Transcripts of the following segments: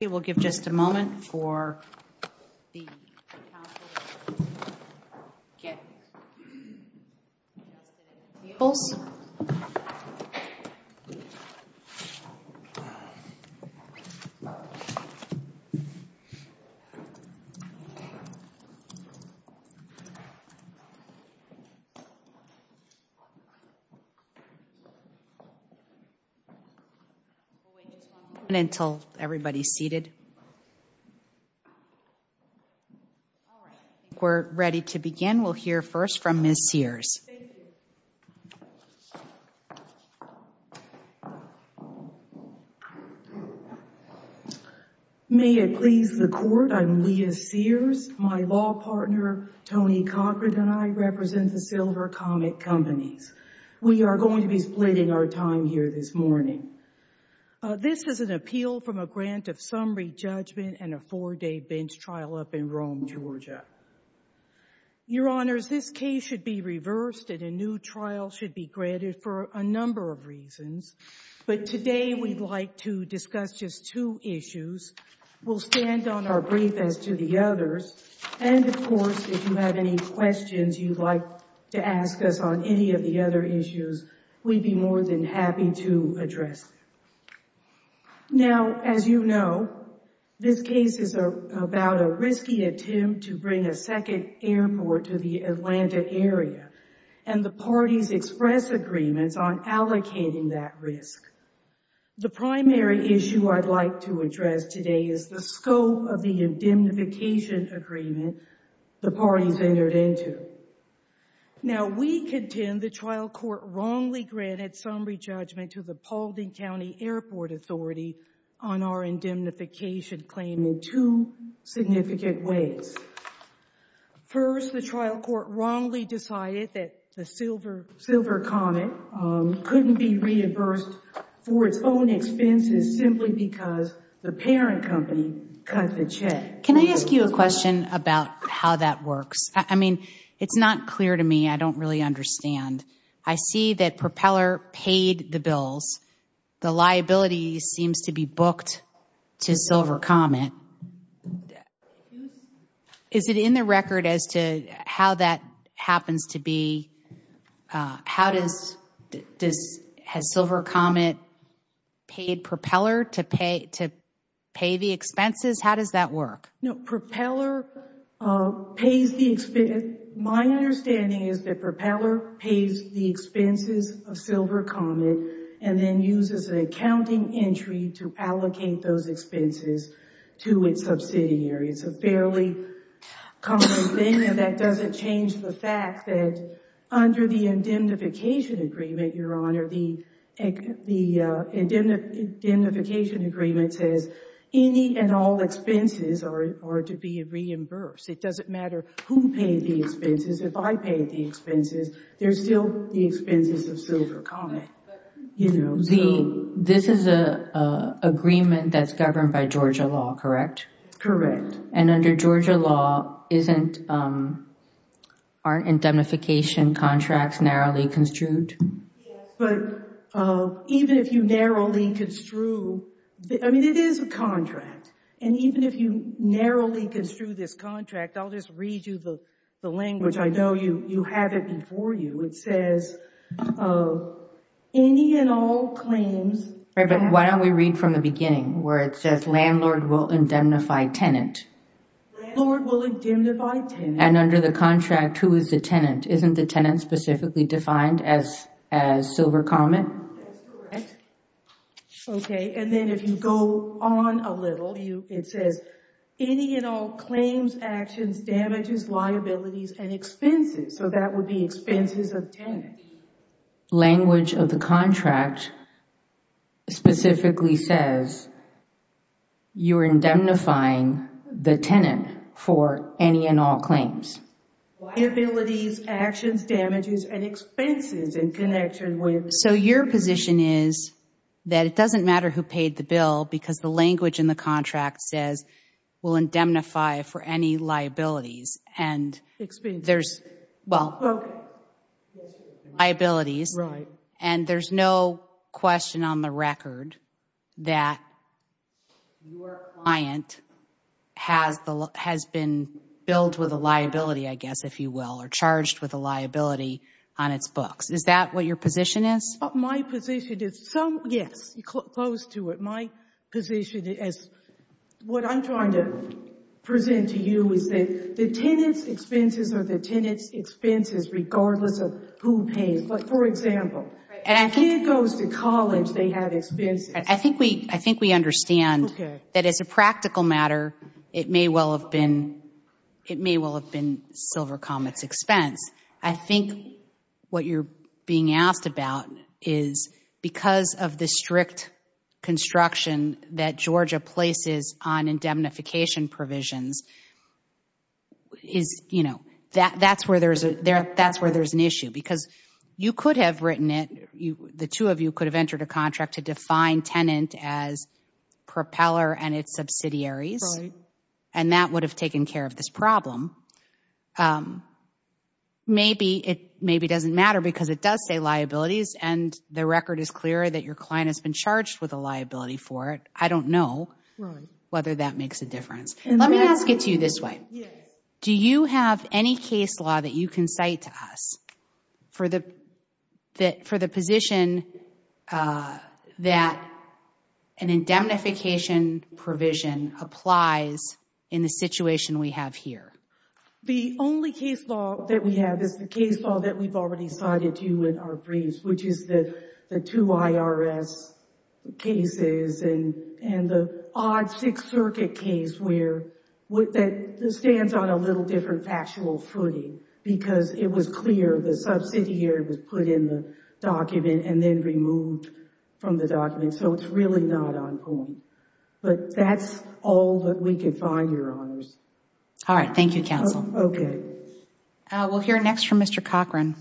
We will give just a moment for the Council to get adjusted in vehicles. We will wait just one moment until everybody is seated. We are ready to begin. We will hear first from Ms. Sears. Thank you. May it please the Court, I am Leah Sears. My law partner, Tony Cochran, and I represent the Silver Comet Companies. We are going to be splitting our time here this morning. This is an appeal from a grant of summary judgment and a four-day bench trial up in Rome, Georgia. Your Honors, this case should be reversed and a new trial should be granted for a number of reasons, but today we'd like to discuss just two issues. We'll stand on our brief as to the others, and, of course, if you have any questions you'd like to ask us on any of the other issues, we'd be more than happy to address them. Now, as you know, this case is about a risky attempt to bring a second airport to the Atlanta area, and the parties express agreements on allocating that risk. The primary issue I'd like to address today is the scope of the indemnification agreement the parties entered into. Now, we contend the trial court wrongly granted summary judgment to the Paulding County Airport Authority on our indemnification claim in two significant ways. First, the trial court wrongly decided that the Silver Comet couldn't be reimbursed for its own expenses simply because the parent company cut the check. Can I ask you a question about how that works? I mean, it's not clear to me. I don't really understand. I see that Propeller paid the bills. The liability seems to be booked to Silver Comet. Is it in the record as to how that happens to be? Has Silver Comet paid Propeller to pay the expenses? How does that work? No, Propeller pays the expenses. My understanding is that Propeller pays the expenses of Silver Comet and then uses an accounting entry to allocate those expenses to its subsidiary. It's a fairly common thing, and that doesn't change the fact that under the indemnification agreement, Your Honor, the indemnification agreement says any and all expenses are to be reimbursed. It doesn't matter who paid the expenses. If I paid the expenses, they're still the expenses of Silver Comet. This is an agreement that's governed by Georgia law, correct? Correct. And under Georgia law, aren't indemnification contracts narrowly construed? Yes. But even if you narrowly construe, I mean, it is a contract, and even if you narrowly construe this contract, I'll just read you the language. I know you have it before you. It says any and all claims Right, but why don't we read from the beginning where it says landlord will indemnify tenant. Landlord will indemnify tenant. And under the contract, who is the tenant? Isn't the tenant specifically defined as Silver Comet? That's correct. Okay, and then if you go on a little, it says any and all claims, actions, damages, liabilities, and expenses. So that would be expenses of tenant. Language of the contract specifically says you're indemnifying the tenant for any and all claims. Liabilities, actions, damages, and expenses in connection with So your position is that it doesn't matter who paid the bill because the language in the contract says we'll indemnify for any liabilities. And there's, well Okay. Liabilities. Right. And there's no question on the record that your client has been billed with a liability, I guess, if you will, or charged with a liability on its books. Is that what your position is? My position is, yes, close to it. My position is, what I'm trying to present to you is that the tenant's expenses are the tenant's expenses regardless of who pays. But for example, if a kid goes to college, they have expenses. I think we understand that as a practical matter, it may well have been Silver Comet's expense. I think what you're being asked about is because of the strict construction that Georgia places on indemnification provisions is, you know, that's where there's an issue. Because you could have written it, the two of you could have entered a contract to define tenant as propeller and its subsidiaries. Right. And that would have taken care of this problem. Maybe it doesn't matter because it does say liabilities and the record is clear that your client has been charged with a liability for it. I don't know whether that makes a difference. Let me ask it to you this way. Do you have any case law that you can cite to us for the position that an indemnification provision applies in the situation we have here? The only case law that we have is the case law that we've already cited to you in our briefs, which is the two IRS cases and the odd Sixth Circuit case that stands on a little different factual footing. Because it was clear the subsidiary was put in the document and then removed from the document. So it's really not on point. But that's all that we could find, Your Honors. All right. Thank you, Counsel. Okay. We'll hear next from Mr. Cochran.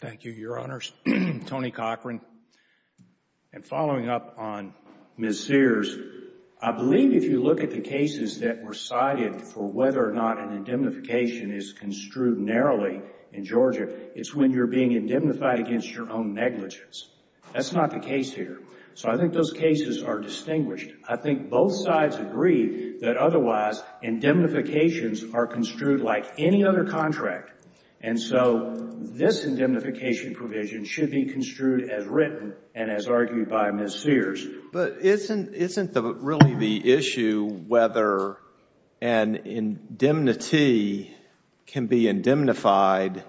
Thank you, Your Honors. I'm Tony Cochran. And following up on Ms. Sears, I believe if you look at the cases that were cited for whether or not an indemnification is construed narrowly in Georgia, it's when you're being indemnified against your own negligence. That's not the case here. So I think those cases are distinguished. I think both sides agree that otherwise indemnifications are construed like any other contract. And so this indemnification provision should be construed as written and as argued by Ms. Sears. But isn't really the issue whether an indemnity can be indemnified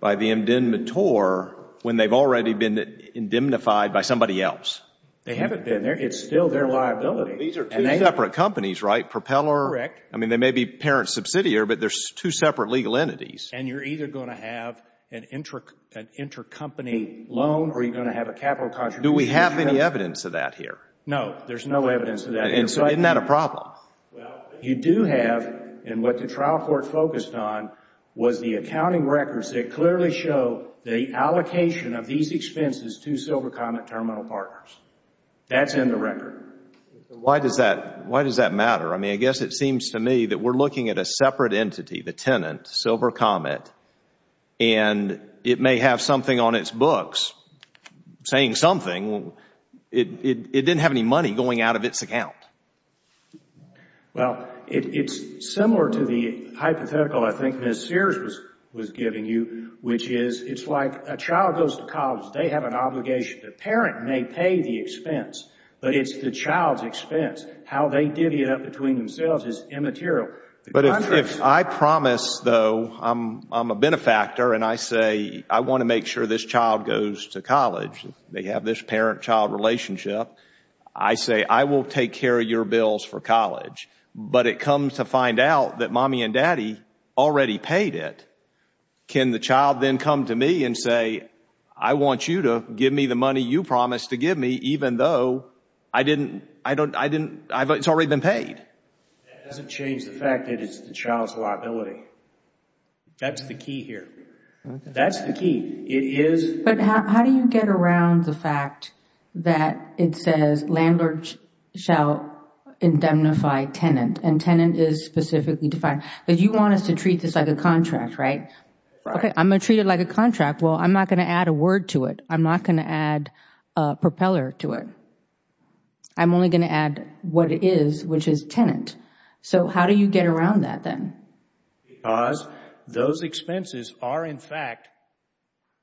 by the indemnitor when they've already been indemnified by somebody else? They haven't been. It's still their liability. These are two separate companies, right? Propeller. Correct. I mean, they may be parent subsidiary, but they're two separate legal entities. And you're either going to have an intercompany loan or you're going to have a capital contribution. Do we have any evidence of that here? No, there's no evidence of that. And so isn't that a problem? Well, you do have, and what the trial court focused on was the accounting records that clearly show the allocation of these expenses to Silver Comet Terminal Partners. That's in the record. Why does that matter? I mean, I guess it seems to me that we're looking at a separate entity, the tenant, Silver Comet, and it may have something on its books saying something. It didn't have any money going out of its account. Well, it's similar to the hypothetical I think Ms. Sears was giving you, which is it's like a child goes to college. They have an obligation. The parent may pay the expense, but it's the child's expense. How they divvy it up between themselves is immaterial. But if I promise, though, I'm a benefactor and I say I want to make sure this child goes to college, they have this parent-child relationship, I say I will take care of your bills for college, but it comes to find out that Mommy and Daddy already paid it, can the child then come to me and say I want you to give me the money you promised to give me even though it's already been paid? That doesn't change the fact that it's the child's liability. That's the key here. That's the key. It is... But how do you get around the fact that it says landlord shall indemnify tenant and tenant is specifically defined? But you want us to treat this like a contract, right? Right. Okay, I'm going to treat it like a contract. Well, I'm not going to add a word to it. I'm not going to add a propeller to it. I'm only going to add what it is, which is tenant. So how do you get around that then? Because those expenses are in fact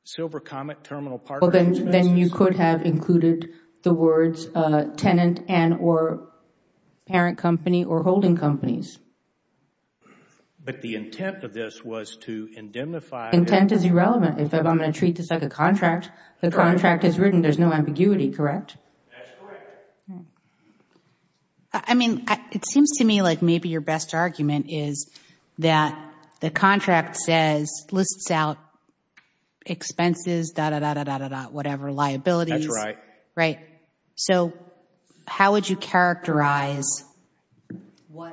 Silver Comet Terminal Partner Expenses. Then you could have included the words tenant and or parent company or holding companies. But the intent of this was to indemnify... Intent is irrelevant. In fact, I'm going to treat this like a contract. The contract is written. There's no ambiguity, correct? That's correct. I mean, it seems to me like maybe your best argument is that the contract lists out expenses, dah, dah, dah, dah, dah, dah, dah, whatever, liabilities. That's right. Right. So how would you characterize the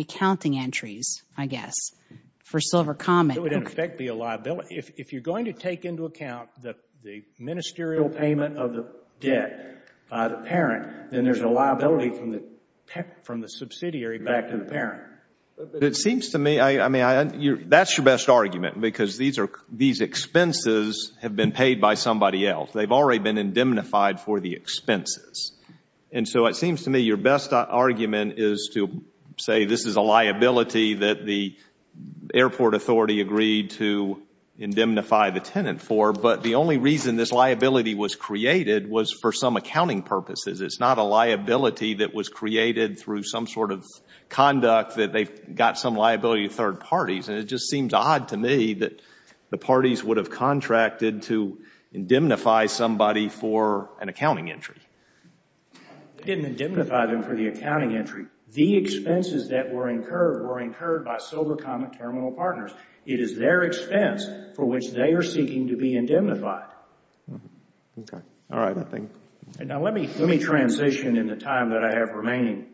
accounting entries, I guess, for Silver Comet? It would in effect be a liability. If you're going to take into account the ministerial payment of the debt by the parent, then there's a liability from the subsidiary back to the parent. It seems to me, I mean, that's your best argument because these expenses have been paid by somebody else. They've already been indemnified for the expenses. And so it seems to me your best argument is to say this is a liability that the airport authority agreed to indemnify the tenant for. But the only reason this liability was created was for some accounting purposes. It's not a liability that was created through some sort of conduct that they've got some liability to third parties. And it just seems odd to me that the parties would have contracted to indemnify somebody for an accounting entry. They didn't indemnify them for the accounting entry. The expenses that were incurred were incurred by Silver Comet Terminal Partners. It is their expense for which they are seeking to be indemnified. Okay. All right. Thank you. Now let me transition in the time that I have remaining.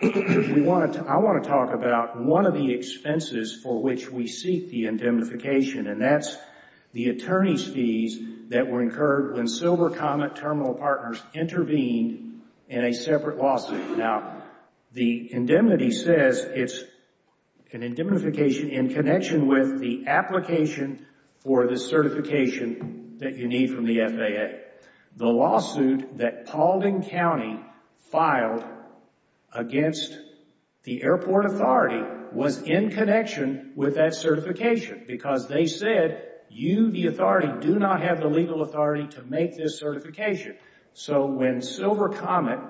I want to talk about one of the expenses for which we seek the indemnification. And that's the attorney's fees that were incurred when Silver Comet Terminal Partners intervened in a separate lawsuit. Now, the indemnity says it's an indemnification in connection with the application for the certification that you need from the FAA. The lawsuit that Paulding County filed against the airport authority was in connection with that certification because they said you, the authority, do not have the legal authority to make this certification. So when Silver Comet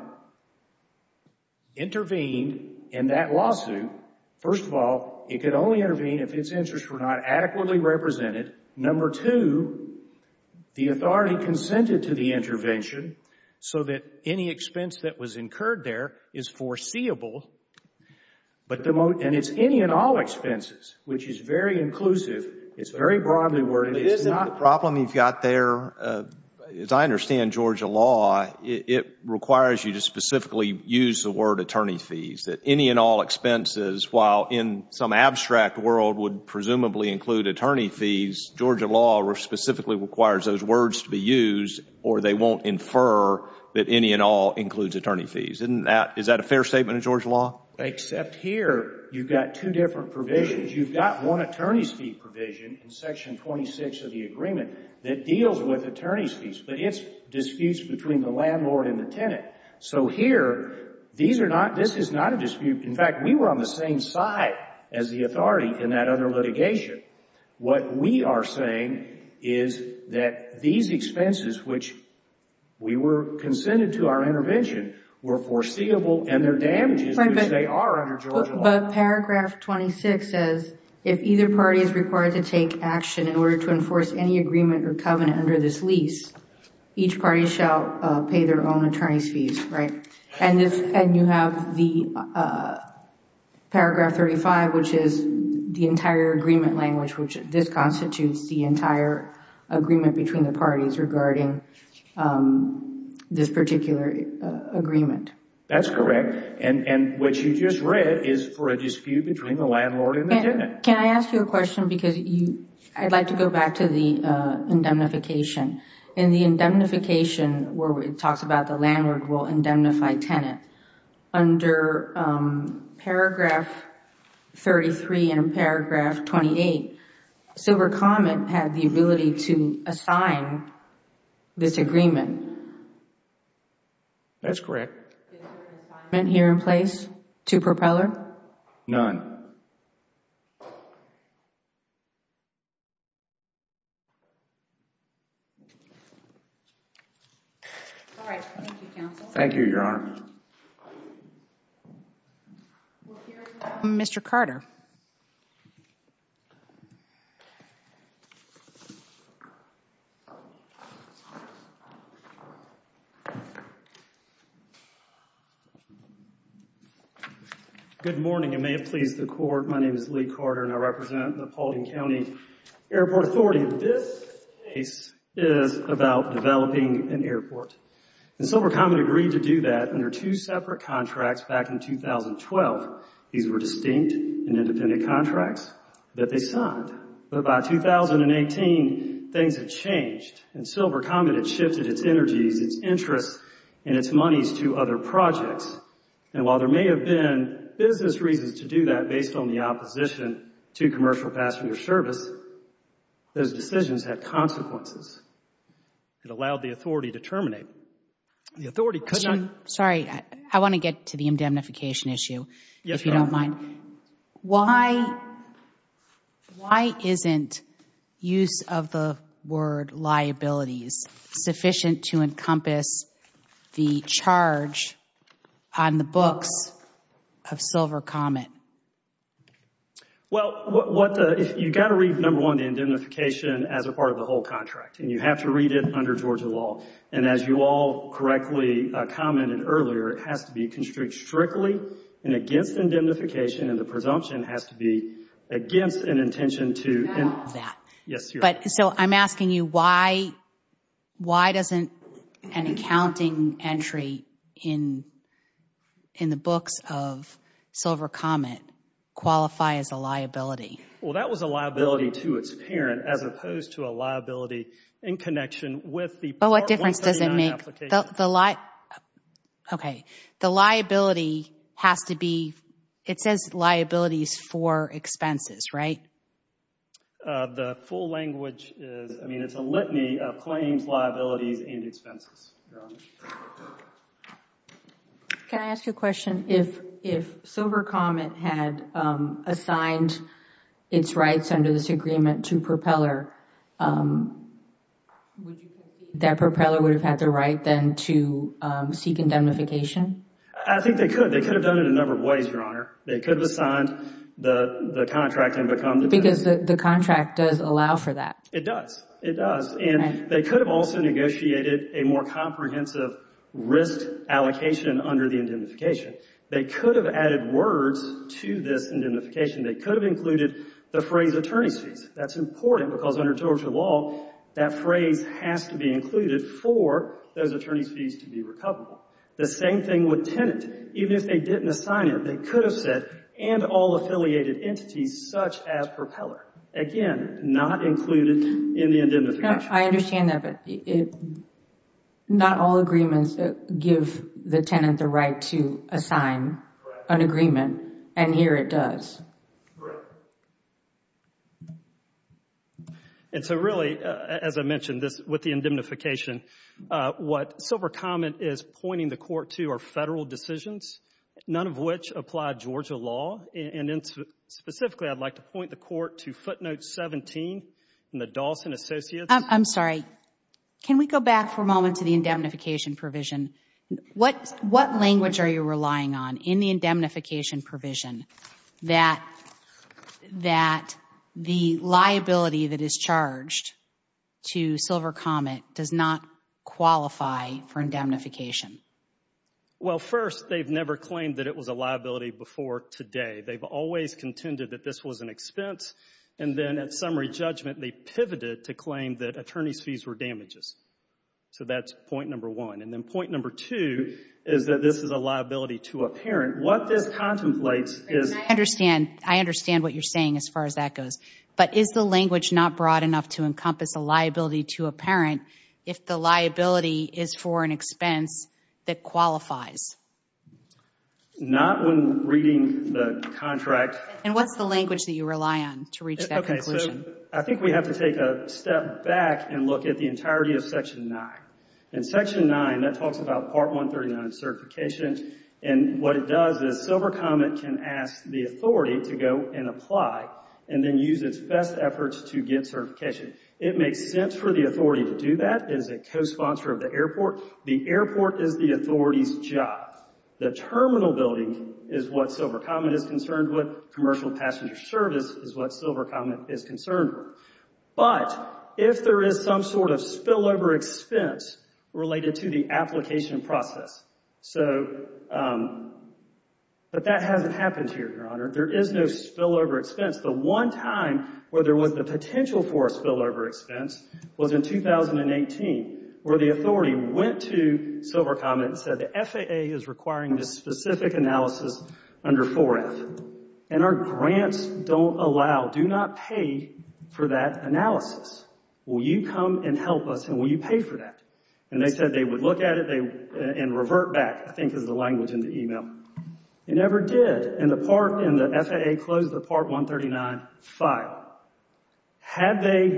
intervened in that lawsuit, first of all, it could only intervene if its interests were not adequately represented. Number two, the authority consented to the intervention so that any expense that was incurred there is foreseeable. And it's any and all expenses, which is very inclusive. It's very broadly worded. The problem you've got there, as I understand Georgia law, it requires you to specifically use the word attorney fees, that any and all expenses, while in some abstract world would presumably include attorney fees, Georgia law specifically requires those words to be used or they won't infer that any and all includes attorney fees. Isn't that, is that a fair statement in Georgia law? Except here, you've got two different provisions. You've got one attorney's fee provision in Section 26 of the agreement that deals with attorney's fees, but it's disputes between the landlord and the tenant. So here, these are not, this is not a dispute. In fact, we were on the same side as the authority in that other litigation. What we are saying is that these expenses, which we were consented to our intervention, were foreseeable and their damages, which they are under Georgia law. But paragraph 26 says, if either party is required to take action in order to enforce any agreement or covenant under this lease, each party shall pay their own attorney's fees, right? And you have the paragraph 35, which is the entire agreement language, which this constitutes the entire agreement between the parties regarding this particular agreement. That's correct. And what you just read is for a dispute between the landlord and the tenant. Can I ask you a question? Because I'd like to go back to the indemnification. In the indemnification where it talks about the landlord will indemnify tenant, under paragraph 33 and paragraph 28, Silver Comet had the ability to assign this agreement. That's correct. And here in place to propeller? None. All right. Thank you, Your Honor. Mr. Carter. Good morning, and may it please the Court. My name is Lee Carter, and I represent the Paulding County Airport Authority. This case is about developing an airport. And Silver Comet agreed to do that under two separate contracts back in 2012. These were distinct and independent contracts that they signed. But by 2018, things had changed. And Silver Comet had shifted its energies, its interests, and its monies to other projects. And while there may have been business reasons to do that based on the opposition to commercial passenger service, those decisions had consequences. It allowed the authority to terminate. The authority could not. Sorry. I want to get to the indemnification issue, if you don't mind. Why isn't use of the word liabilities sufficient to encompass the charge on the books of Silver Comet? Well, you've got to read, number one, the indemnification as a part of the whole contract. And you have to read it under Georgia law. And as you all correctly commented earlier, it has to be constricted strictly and against indemnification. And the presumption has to be against an intention to Stop that. Yes, Your Honor. So I'm asking you, why doesn't an accounting entry in the books of Silver Comet qualify as a liability? Well, that was a liability to its parent as opposed to a liability in connection with the The difference doesn't make. The liability has to be. It says liabilities for expenses, right? The full language is, I mean, it's a litany of claims, liabilities, and expenses. Can I ask you a question? If Silver Comet had assigned its rights under this agreement to Propeller, would you say that Propeller would have had the right then to seek indemnification? I think they could. They could have done it a number of ways, Your Honor. They could have assigned the contract and become the beneficiary. Because the contract does allow for that. It does. It does. And they could have also negotiated a more comprehensive risk allocation under the indemnification. They could have added words to this indemnification. They could have included the phrase attorney's fees. That's important because under Georgia law, that phrase has to be included for those attorney's fees to be recoverable. The same thing with tenant. Even if they didn't assign it, they could have said, and all affiliated entities such as Propeller. Again, not included in the indemnification. I understand that. But not all agreements give the tenant the right to assign an agreement, and here it does. Correct. And so really, as I mentioned, with the indemnification, what Silver Comet is pointing the court to are federal decisions, none of which apply Georgia law. Specifically, I'd like to point the court to footnote 17 in the Dawson Associates. I'm sorry. Can we go back for a moment to the indemnification provision? What language are you relying on in the indemnification provision that the liability that is charged to Silver Comet does not qualify for indemnification? Well, first, they've never claimed that it was a liability before today. They've always contended that this was an expense. And then at summary judgment, they pivoted to claim that attorney's fees were damages. So that's point number one. And then point number two is that this is a liability to a parent. What this contemplates is— I understand. I understand what you're saying as far as that goes. But is the language not broad enough to encompass a liability to a parent if the liability is for an expense that qualifies? Not when reading the contract. And what's the language that you rely on to reach that conclusion? I think we have to take a step back and look at the entirety of Section 9. In Section 9, that talks about Part 139 of certification. And what it does is Silver Comet can ask the authority to go and apply and then use its best efforts to get certification. It makes sense for the authority to do that as a co-sponsor of the airport. The airport is the authority's job. The terminal building is what Silver Comet is concerned with. Commercial passenger service is what Silver Comet is concerned with. But if there is some sort of spillover expense related to the application process— but that hasn't happened here, Your Honor. There is no spillover expense. The one time where there was the potential for a spillover expense was in 2018, where the authority went to Silver Comet and said the FAA is requiring this specific analysis under 4F. And our grants don't allow—do not pay for that analysis. Will you come and help us and will you pay for that? And they said they would look at it and revert back, I think is the language in the email. It never did. And the FAA closed the Part 139 file. Had they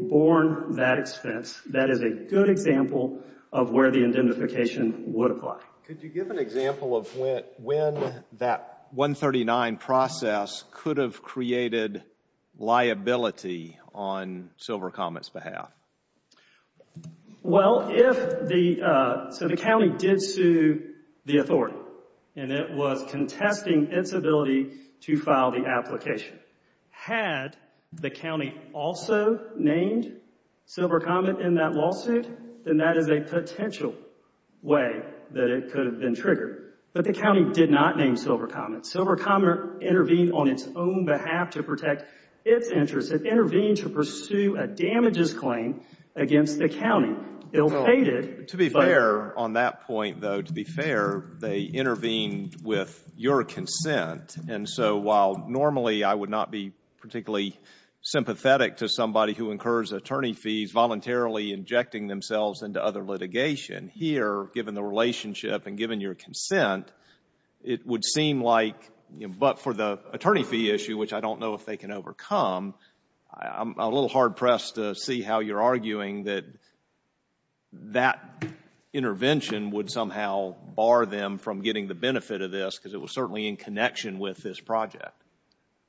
borne that expense, that is a good example of where the identification would apply. Could you give an example of when that 139 process could have created liability on Silver Comet's behalf? Well, if the—so the county did sue the authority and it was contesting its ability to file the application. Had the county also named Silver Comet in that lawsuit, then that is a potential way that it could have been triggered. But the county did not name Silver Comet. Silver Comet intervened on its own behalf to protect its interests. It intervened to pursue a damages claim against the county. Bill faded, but— To be fair on that point, though, to be fair, they intervened with your consent. And so while normally I would not be particularly sympathetic to somebody who incurs attorney fees voluntarily injecting themselves into other litigation, here, given the relationship and given your consent, it would seem like—but for the attorney fee issue, which I don't know if they can overcome, I'm a little hard-pressed to see how you're arguing that that intervention would somehow bar them from getting the benefit of this, because it was certainly in connection with this project.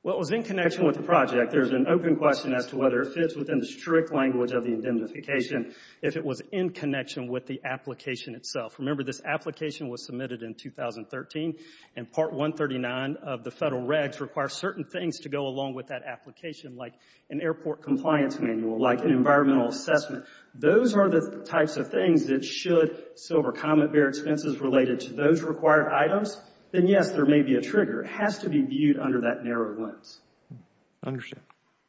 Well, it was in connection with the project. There's an open question as to whether it fits within the strict language of the indemnification if it was in connection with the application itself. Remember, this application was submitted in 2013, and Part 139 of the federal regs requires certain things to go along with that application, like an airport compliance manual, like an environmental assessment. Those are the types of things that should Silver Comet bear expenses related to those required items. Then, yes, there may be a trigger. It has to be viewed under that narrow lens. I understand.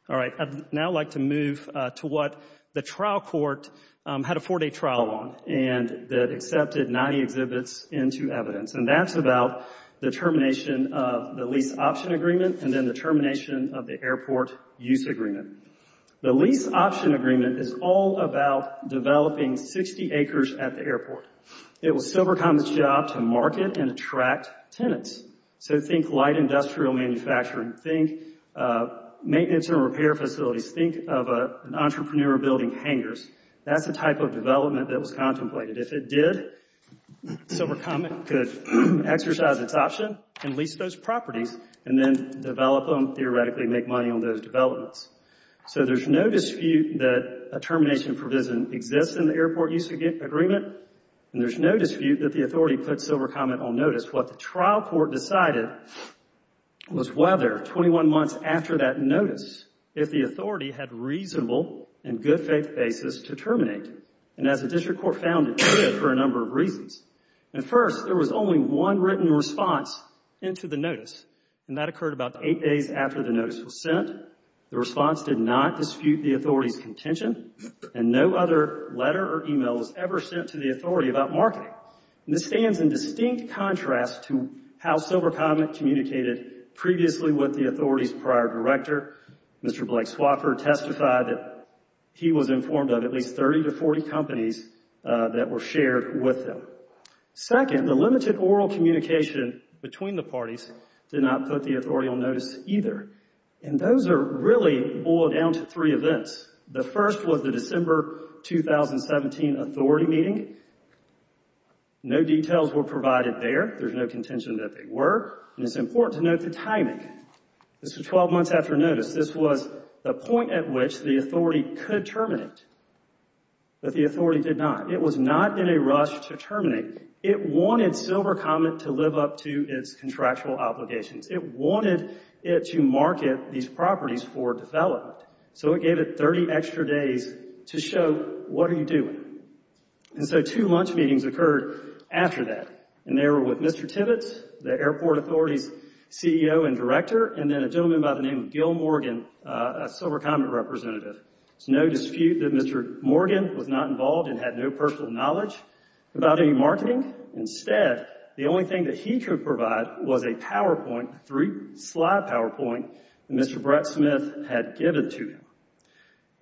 All right. I'd now like to move to what the trial court had a four-day trial on, and that accepted 90 exhibits into evidence. And that's about the termination of the lease option agreement and then the termination of the airport use agreement. The lease option agreement is all about developing 60 acres at the airport. It was Silver Comet's job to market and attract tenants. So think light industrial manufacturing. Think maintenance and repair facilities. Think of an entrepreneur building hangers. That's the type of development that was contemplated. If it did, Silver Comet could exercise its option and lease those properties and then develop them, theoretically make money on those developments. So there's no dispute that a termination provision exists in the airport use agreement, and there's no dispute that the authority put Silver Comet on notice. What the trial court decided was whether 21 months after that notice, if the authority had reasonable and good faith basis to terminate. And as the district court found, it did for a number of reasons. And first, there was only one written response into the notice, and that occurred about eight days after the notice was sent. The response did not dispute the authority's contention, and no other letter or email was ever sent to the authority about marketing. This stands in distinct contrast to how Silver Comet communicated previously with the authority's prior director. Mr. Blake Swofford testified that he was informed of at least 30 to 40 companies that were shared with them. Second, the limited oral communication between the parties did not put the authority on notice either. And those are really boiled down to three events. The first was the December 2017 authority meeting. No details were provided there. There's no contention that they were. And it's important to note the timing. This was 12 months after notice. This was the point at which the authority could terminate, but the authority did not. It was not in a rush to terminate. It wanted Silver Comet to live up to its contractual obligations. It wanted it to market these properties for development, so it gave it 30 extra days to show what are you doing. And so two lunch meetings occurred after that, and they were with Mr. Tibbetts, the airport authority's CEO and director, and then a gentleman by the name of Gil Morgan, a Silver Comet representative. There's no dispute that Mr. Morgan was not involved and had no personal knowledge about any marketing. Instead, the only thing that he could provide was a PowerPoint, a three-slide PowerPoint that Mr. Brett Smith had given to him.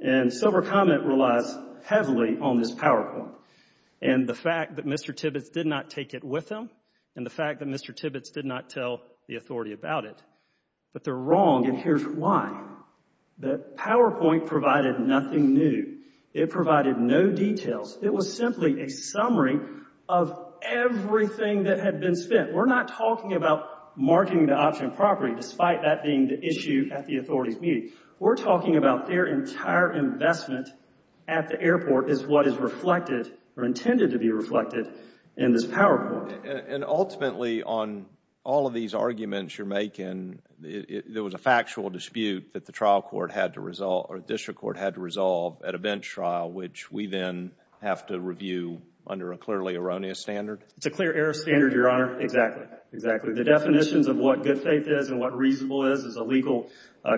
And Silver Comet relies heavily on this PowerPoint. And the fact that Mr. Tibbetts did not take it with him and the fact that Mr. Tibbetts did not tell the authority about it, but they're wrong, and here's why. The PowerPoint provided nothing new. It provided no details. It was simply a summary of everything that had been spent. We're not talking about marketing the option property, despite that being the issue at the authority's meeting. We're talking about their entire investment at the airport is what is reflected or intended to be reflected in this PowerPoint. And ultimately, on all of these arguments you're making, there was a factual dispute that the trial court had to resolve or district court had to resolve at a bench trial, which we then have to review under a clearly erroneous standard? It's a clear error of standard, Your Honor. Exactly, exactly. The definitions of what good faith is and what reasonable is is a legal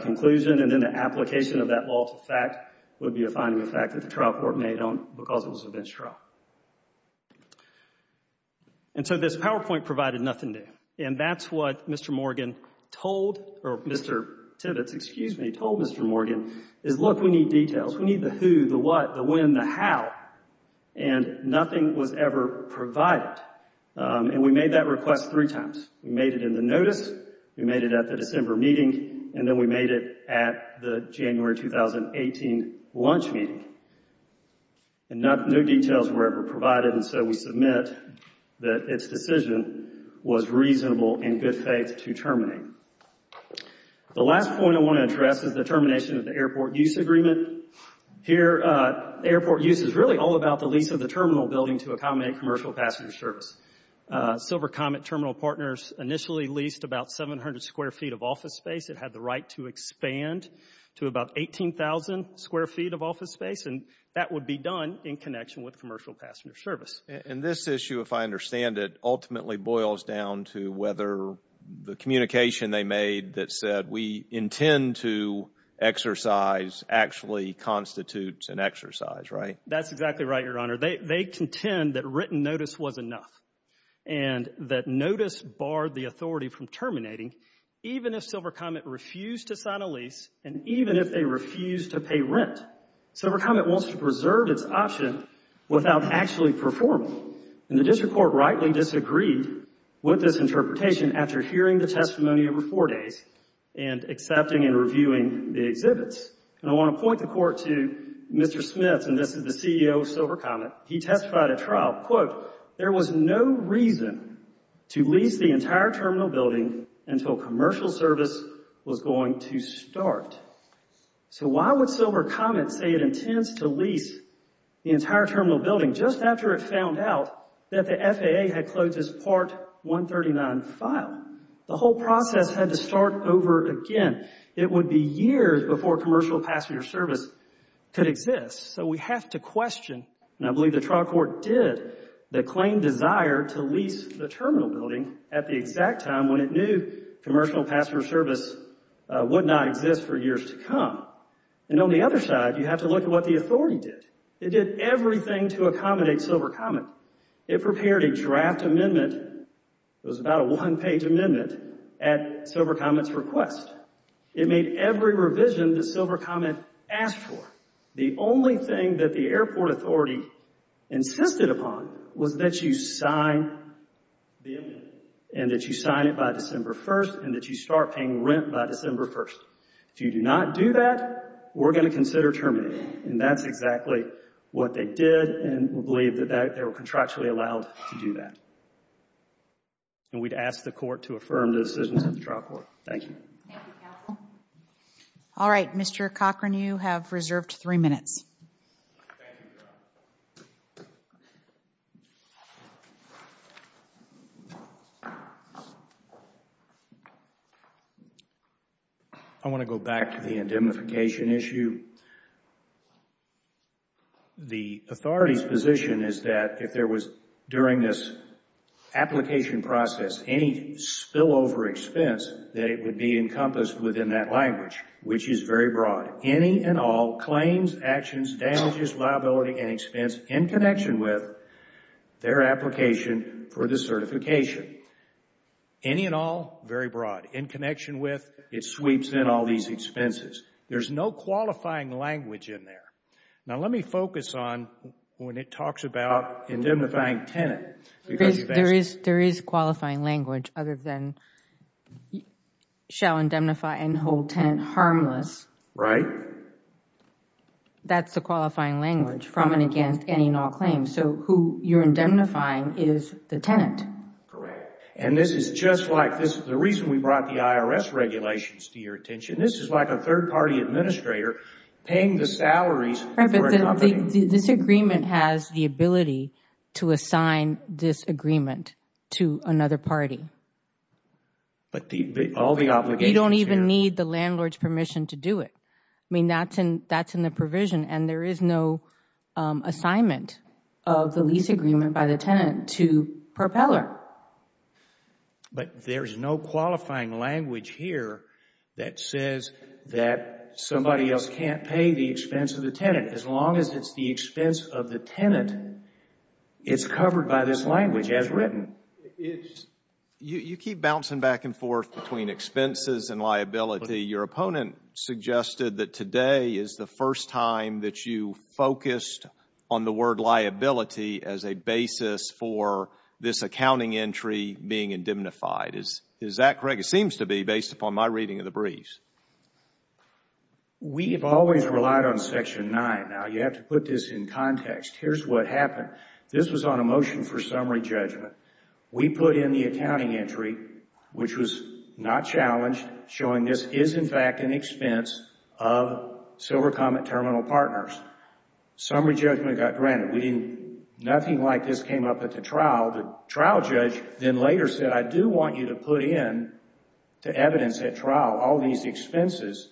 conclusion, and then the application of that law to fact would be a finding of fact that the trial court made on because it was a bench trial. And so this PowerPoint provided nothing new, and that's what Mr. Morgan told, or Mr. Tibbetts, excuse me, told Mr. Morgan is, look, we need details. We need the who, the what, the when, the how, and nothing was ever provided. And we made that request three times. We made it in the notice. We made it at the December meeting, and then we made it at the January 2018 lunch meeting. And no details were ever provided, and so we submit that its decision was reasonable in good faith to terminate. The last point I want to address is the termination of the airport use agreement. Here, airport use is really all about the lease of the terminal building to accommodate commercial passenger service. Silver Comet Terminal Partners initially leased about 700 square feet of office space. It had the right to expand to about 18,000 square feet of office space, and that would be done in connection with commercial passenger service. And this issue, if I understand it, ultimately boils down to whether the communication they made that said we intend to exercise actually constitutes an exercise, right? That's exactly right, Your Honor. They contend that written notice was enough and that notice barred the authority from terminating, even if Silver Comet refused to sign a lease and even if they refused to pay rent. Silver Comet wants to preserve its option without actually performing, and the district court rightly disagreed with this interpretation after hearing the testimony over four days and accepting and reviewing the exhibits. And I want to point the court to Mr. Smith, and this is the CEO of Silver Comet. He testified at trial, quote, there was no reason to lease the entire terminal building until commercial service was going to start. So why would Silver Comet say it intends to lease the entire terminal building just after it found out that the FAA had closed its Part 139 file? The whole process had to start over again. It would be years before commercial passenger service could exist. So we have to question, and I believe the trial court did, the claimed desire to lease the terminal building at the exact time when it knew commercial passenger service would not exist for years to come. And on the other side, you have to look at what the authority did. It did everything to accommodate Silver Comet. It prepared a draft amendment. It was about a one-page amendment at Silver Comet's request. It made every revision that Silver Comet asked for. The only thing that the airport authority insisted upon was that you sign the amendment and that you sign it by December 1st and that you start paying rent by December 1st. If you do not do that, we're going to consider terminating. And that's exactly what they did, and we believe that they were contractually allowed to do that. And we'd ask the court to affirm the decisions of the trial court. Thank you. Thank you, counsel. All right, Mr. Cochran, you have reserved three minutes. Thank you, Your Honor. I want to go back to the indemnification issue. The authority's position is that if there was, during this application process, any spillover expense, that it would be encompassed within that language, which is very broad. Any and all claims, actions, damages, liability, and expense in connection with their application for the certification. Any and all, very broad. In connection with, it sweeps in all these expenses. There's no qualifying language in there. Now, let me focus on when it talks about indemnifying tenant. There is qualifying language other than shall indemnify and hold tenant harmless. Right. That's the qualifying language from and against any and all claims. So who you're indemnifying is the tenant. Correct. And this is just like this. The reason we brought the IRS regulations to your attention, this is like a third-party administrator paying the salaries for a company. This agreement has the ability to assign this agreement to another party. But all the obligations here. You don't even need the landlord's permission to do it. I mean, that's in the provision, and there is no assignment of the lease agreement by the tenant to propeller. But there is no qualifying language here that says that somebody else can't pay the expense of the tenant. As long as it's the expense of the tenant, it's covered by this language as written. You keep bouncing back and forth between expenses and liability. Your opponent suggested that today is the first time that you focused on the word liability as a basis for this accounting entry being indemnified. Is that correct? It seems to be, based upon my reading of the briefs. We have always relied on Section 9. Now, you have to put this in context. Here's what happened. This was on a motion for summary judgment. We put in the accounting entry, which was not challenged, showing this is, in fact, an expense of Silver Comet Terminal Partners. Summary judgment got granted. Nothing like this came up at the trial. The trial judge then later said, I do want you to put in the evidence at trial, all these expenses.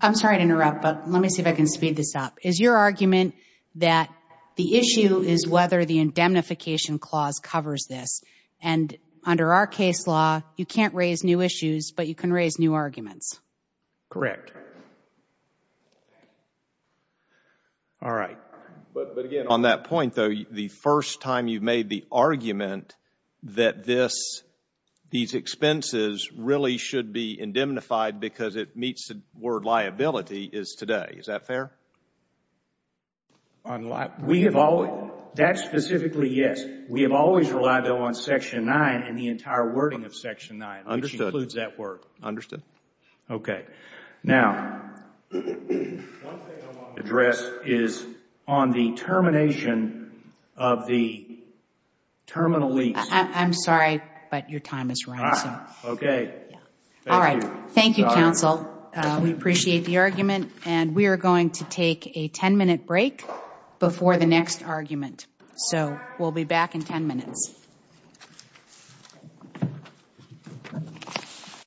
I'm sorry to interrupt, but let me see if I can speed this up. Is your argument that the issue is whether the indemnification clause covers this? And under our case law, you can't raise new issues, but you can raise new arguments. Correct. All right. But, again, on that point, though, the first time you made the argument that these expenses really should be indemnified because it meets the word liability is today. Is that fair? That's specifically yes. We have always relied on Section 9 and the entire wording of Section 9, which includes that word. Understood. Okay. Now, one thing I want to address is on the termination of the terminal lease. I'm sorry, but your time is running. Okay. All right. Thank you, counsel. We appreciate the argument, and we are going to take a ten-minute break before the next argument. So we'll be back in ten minutes.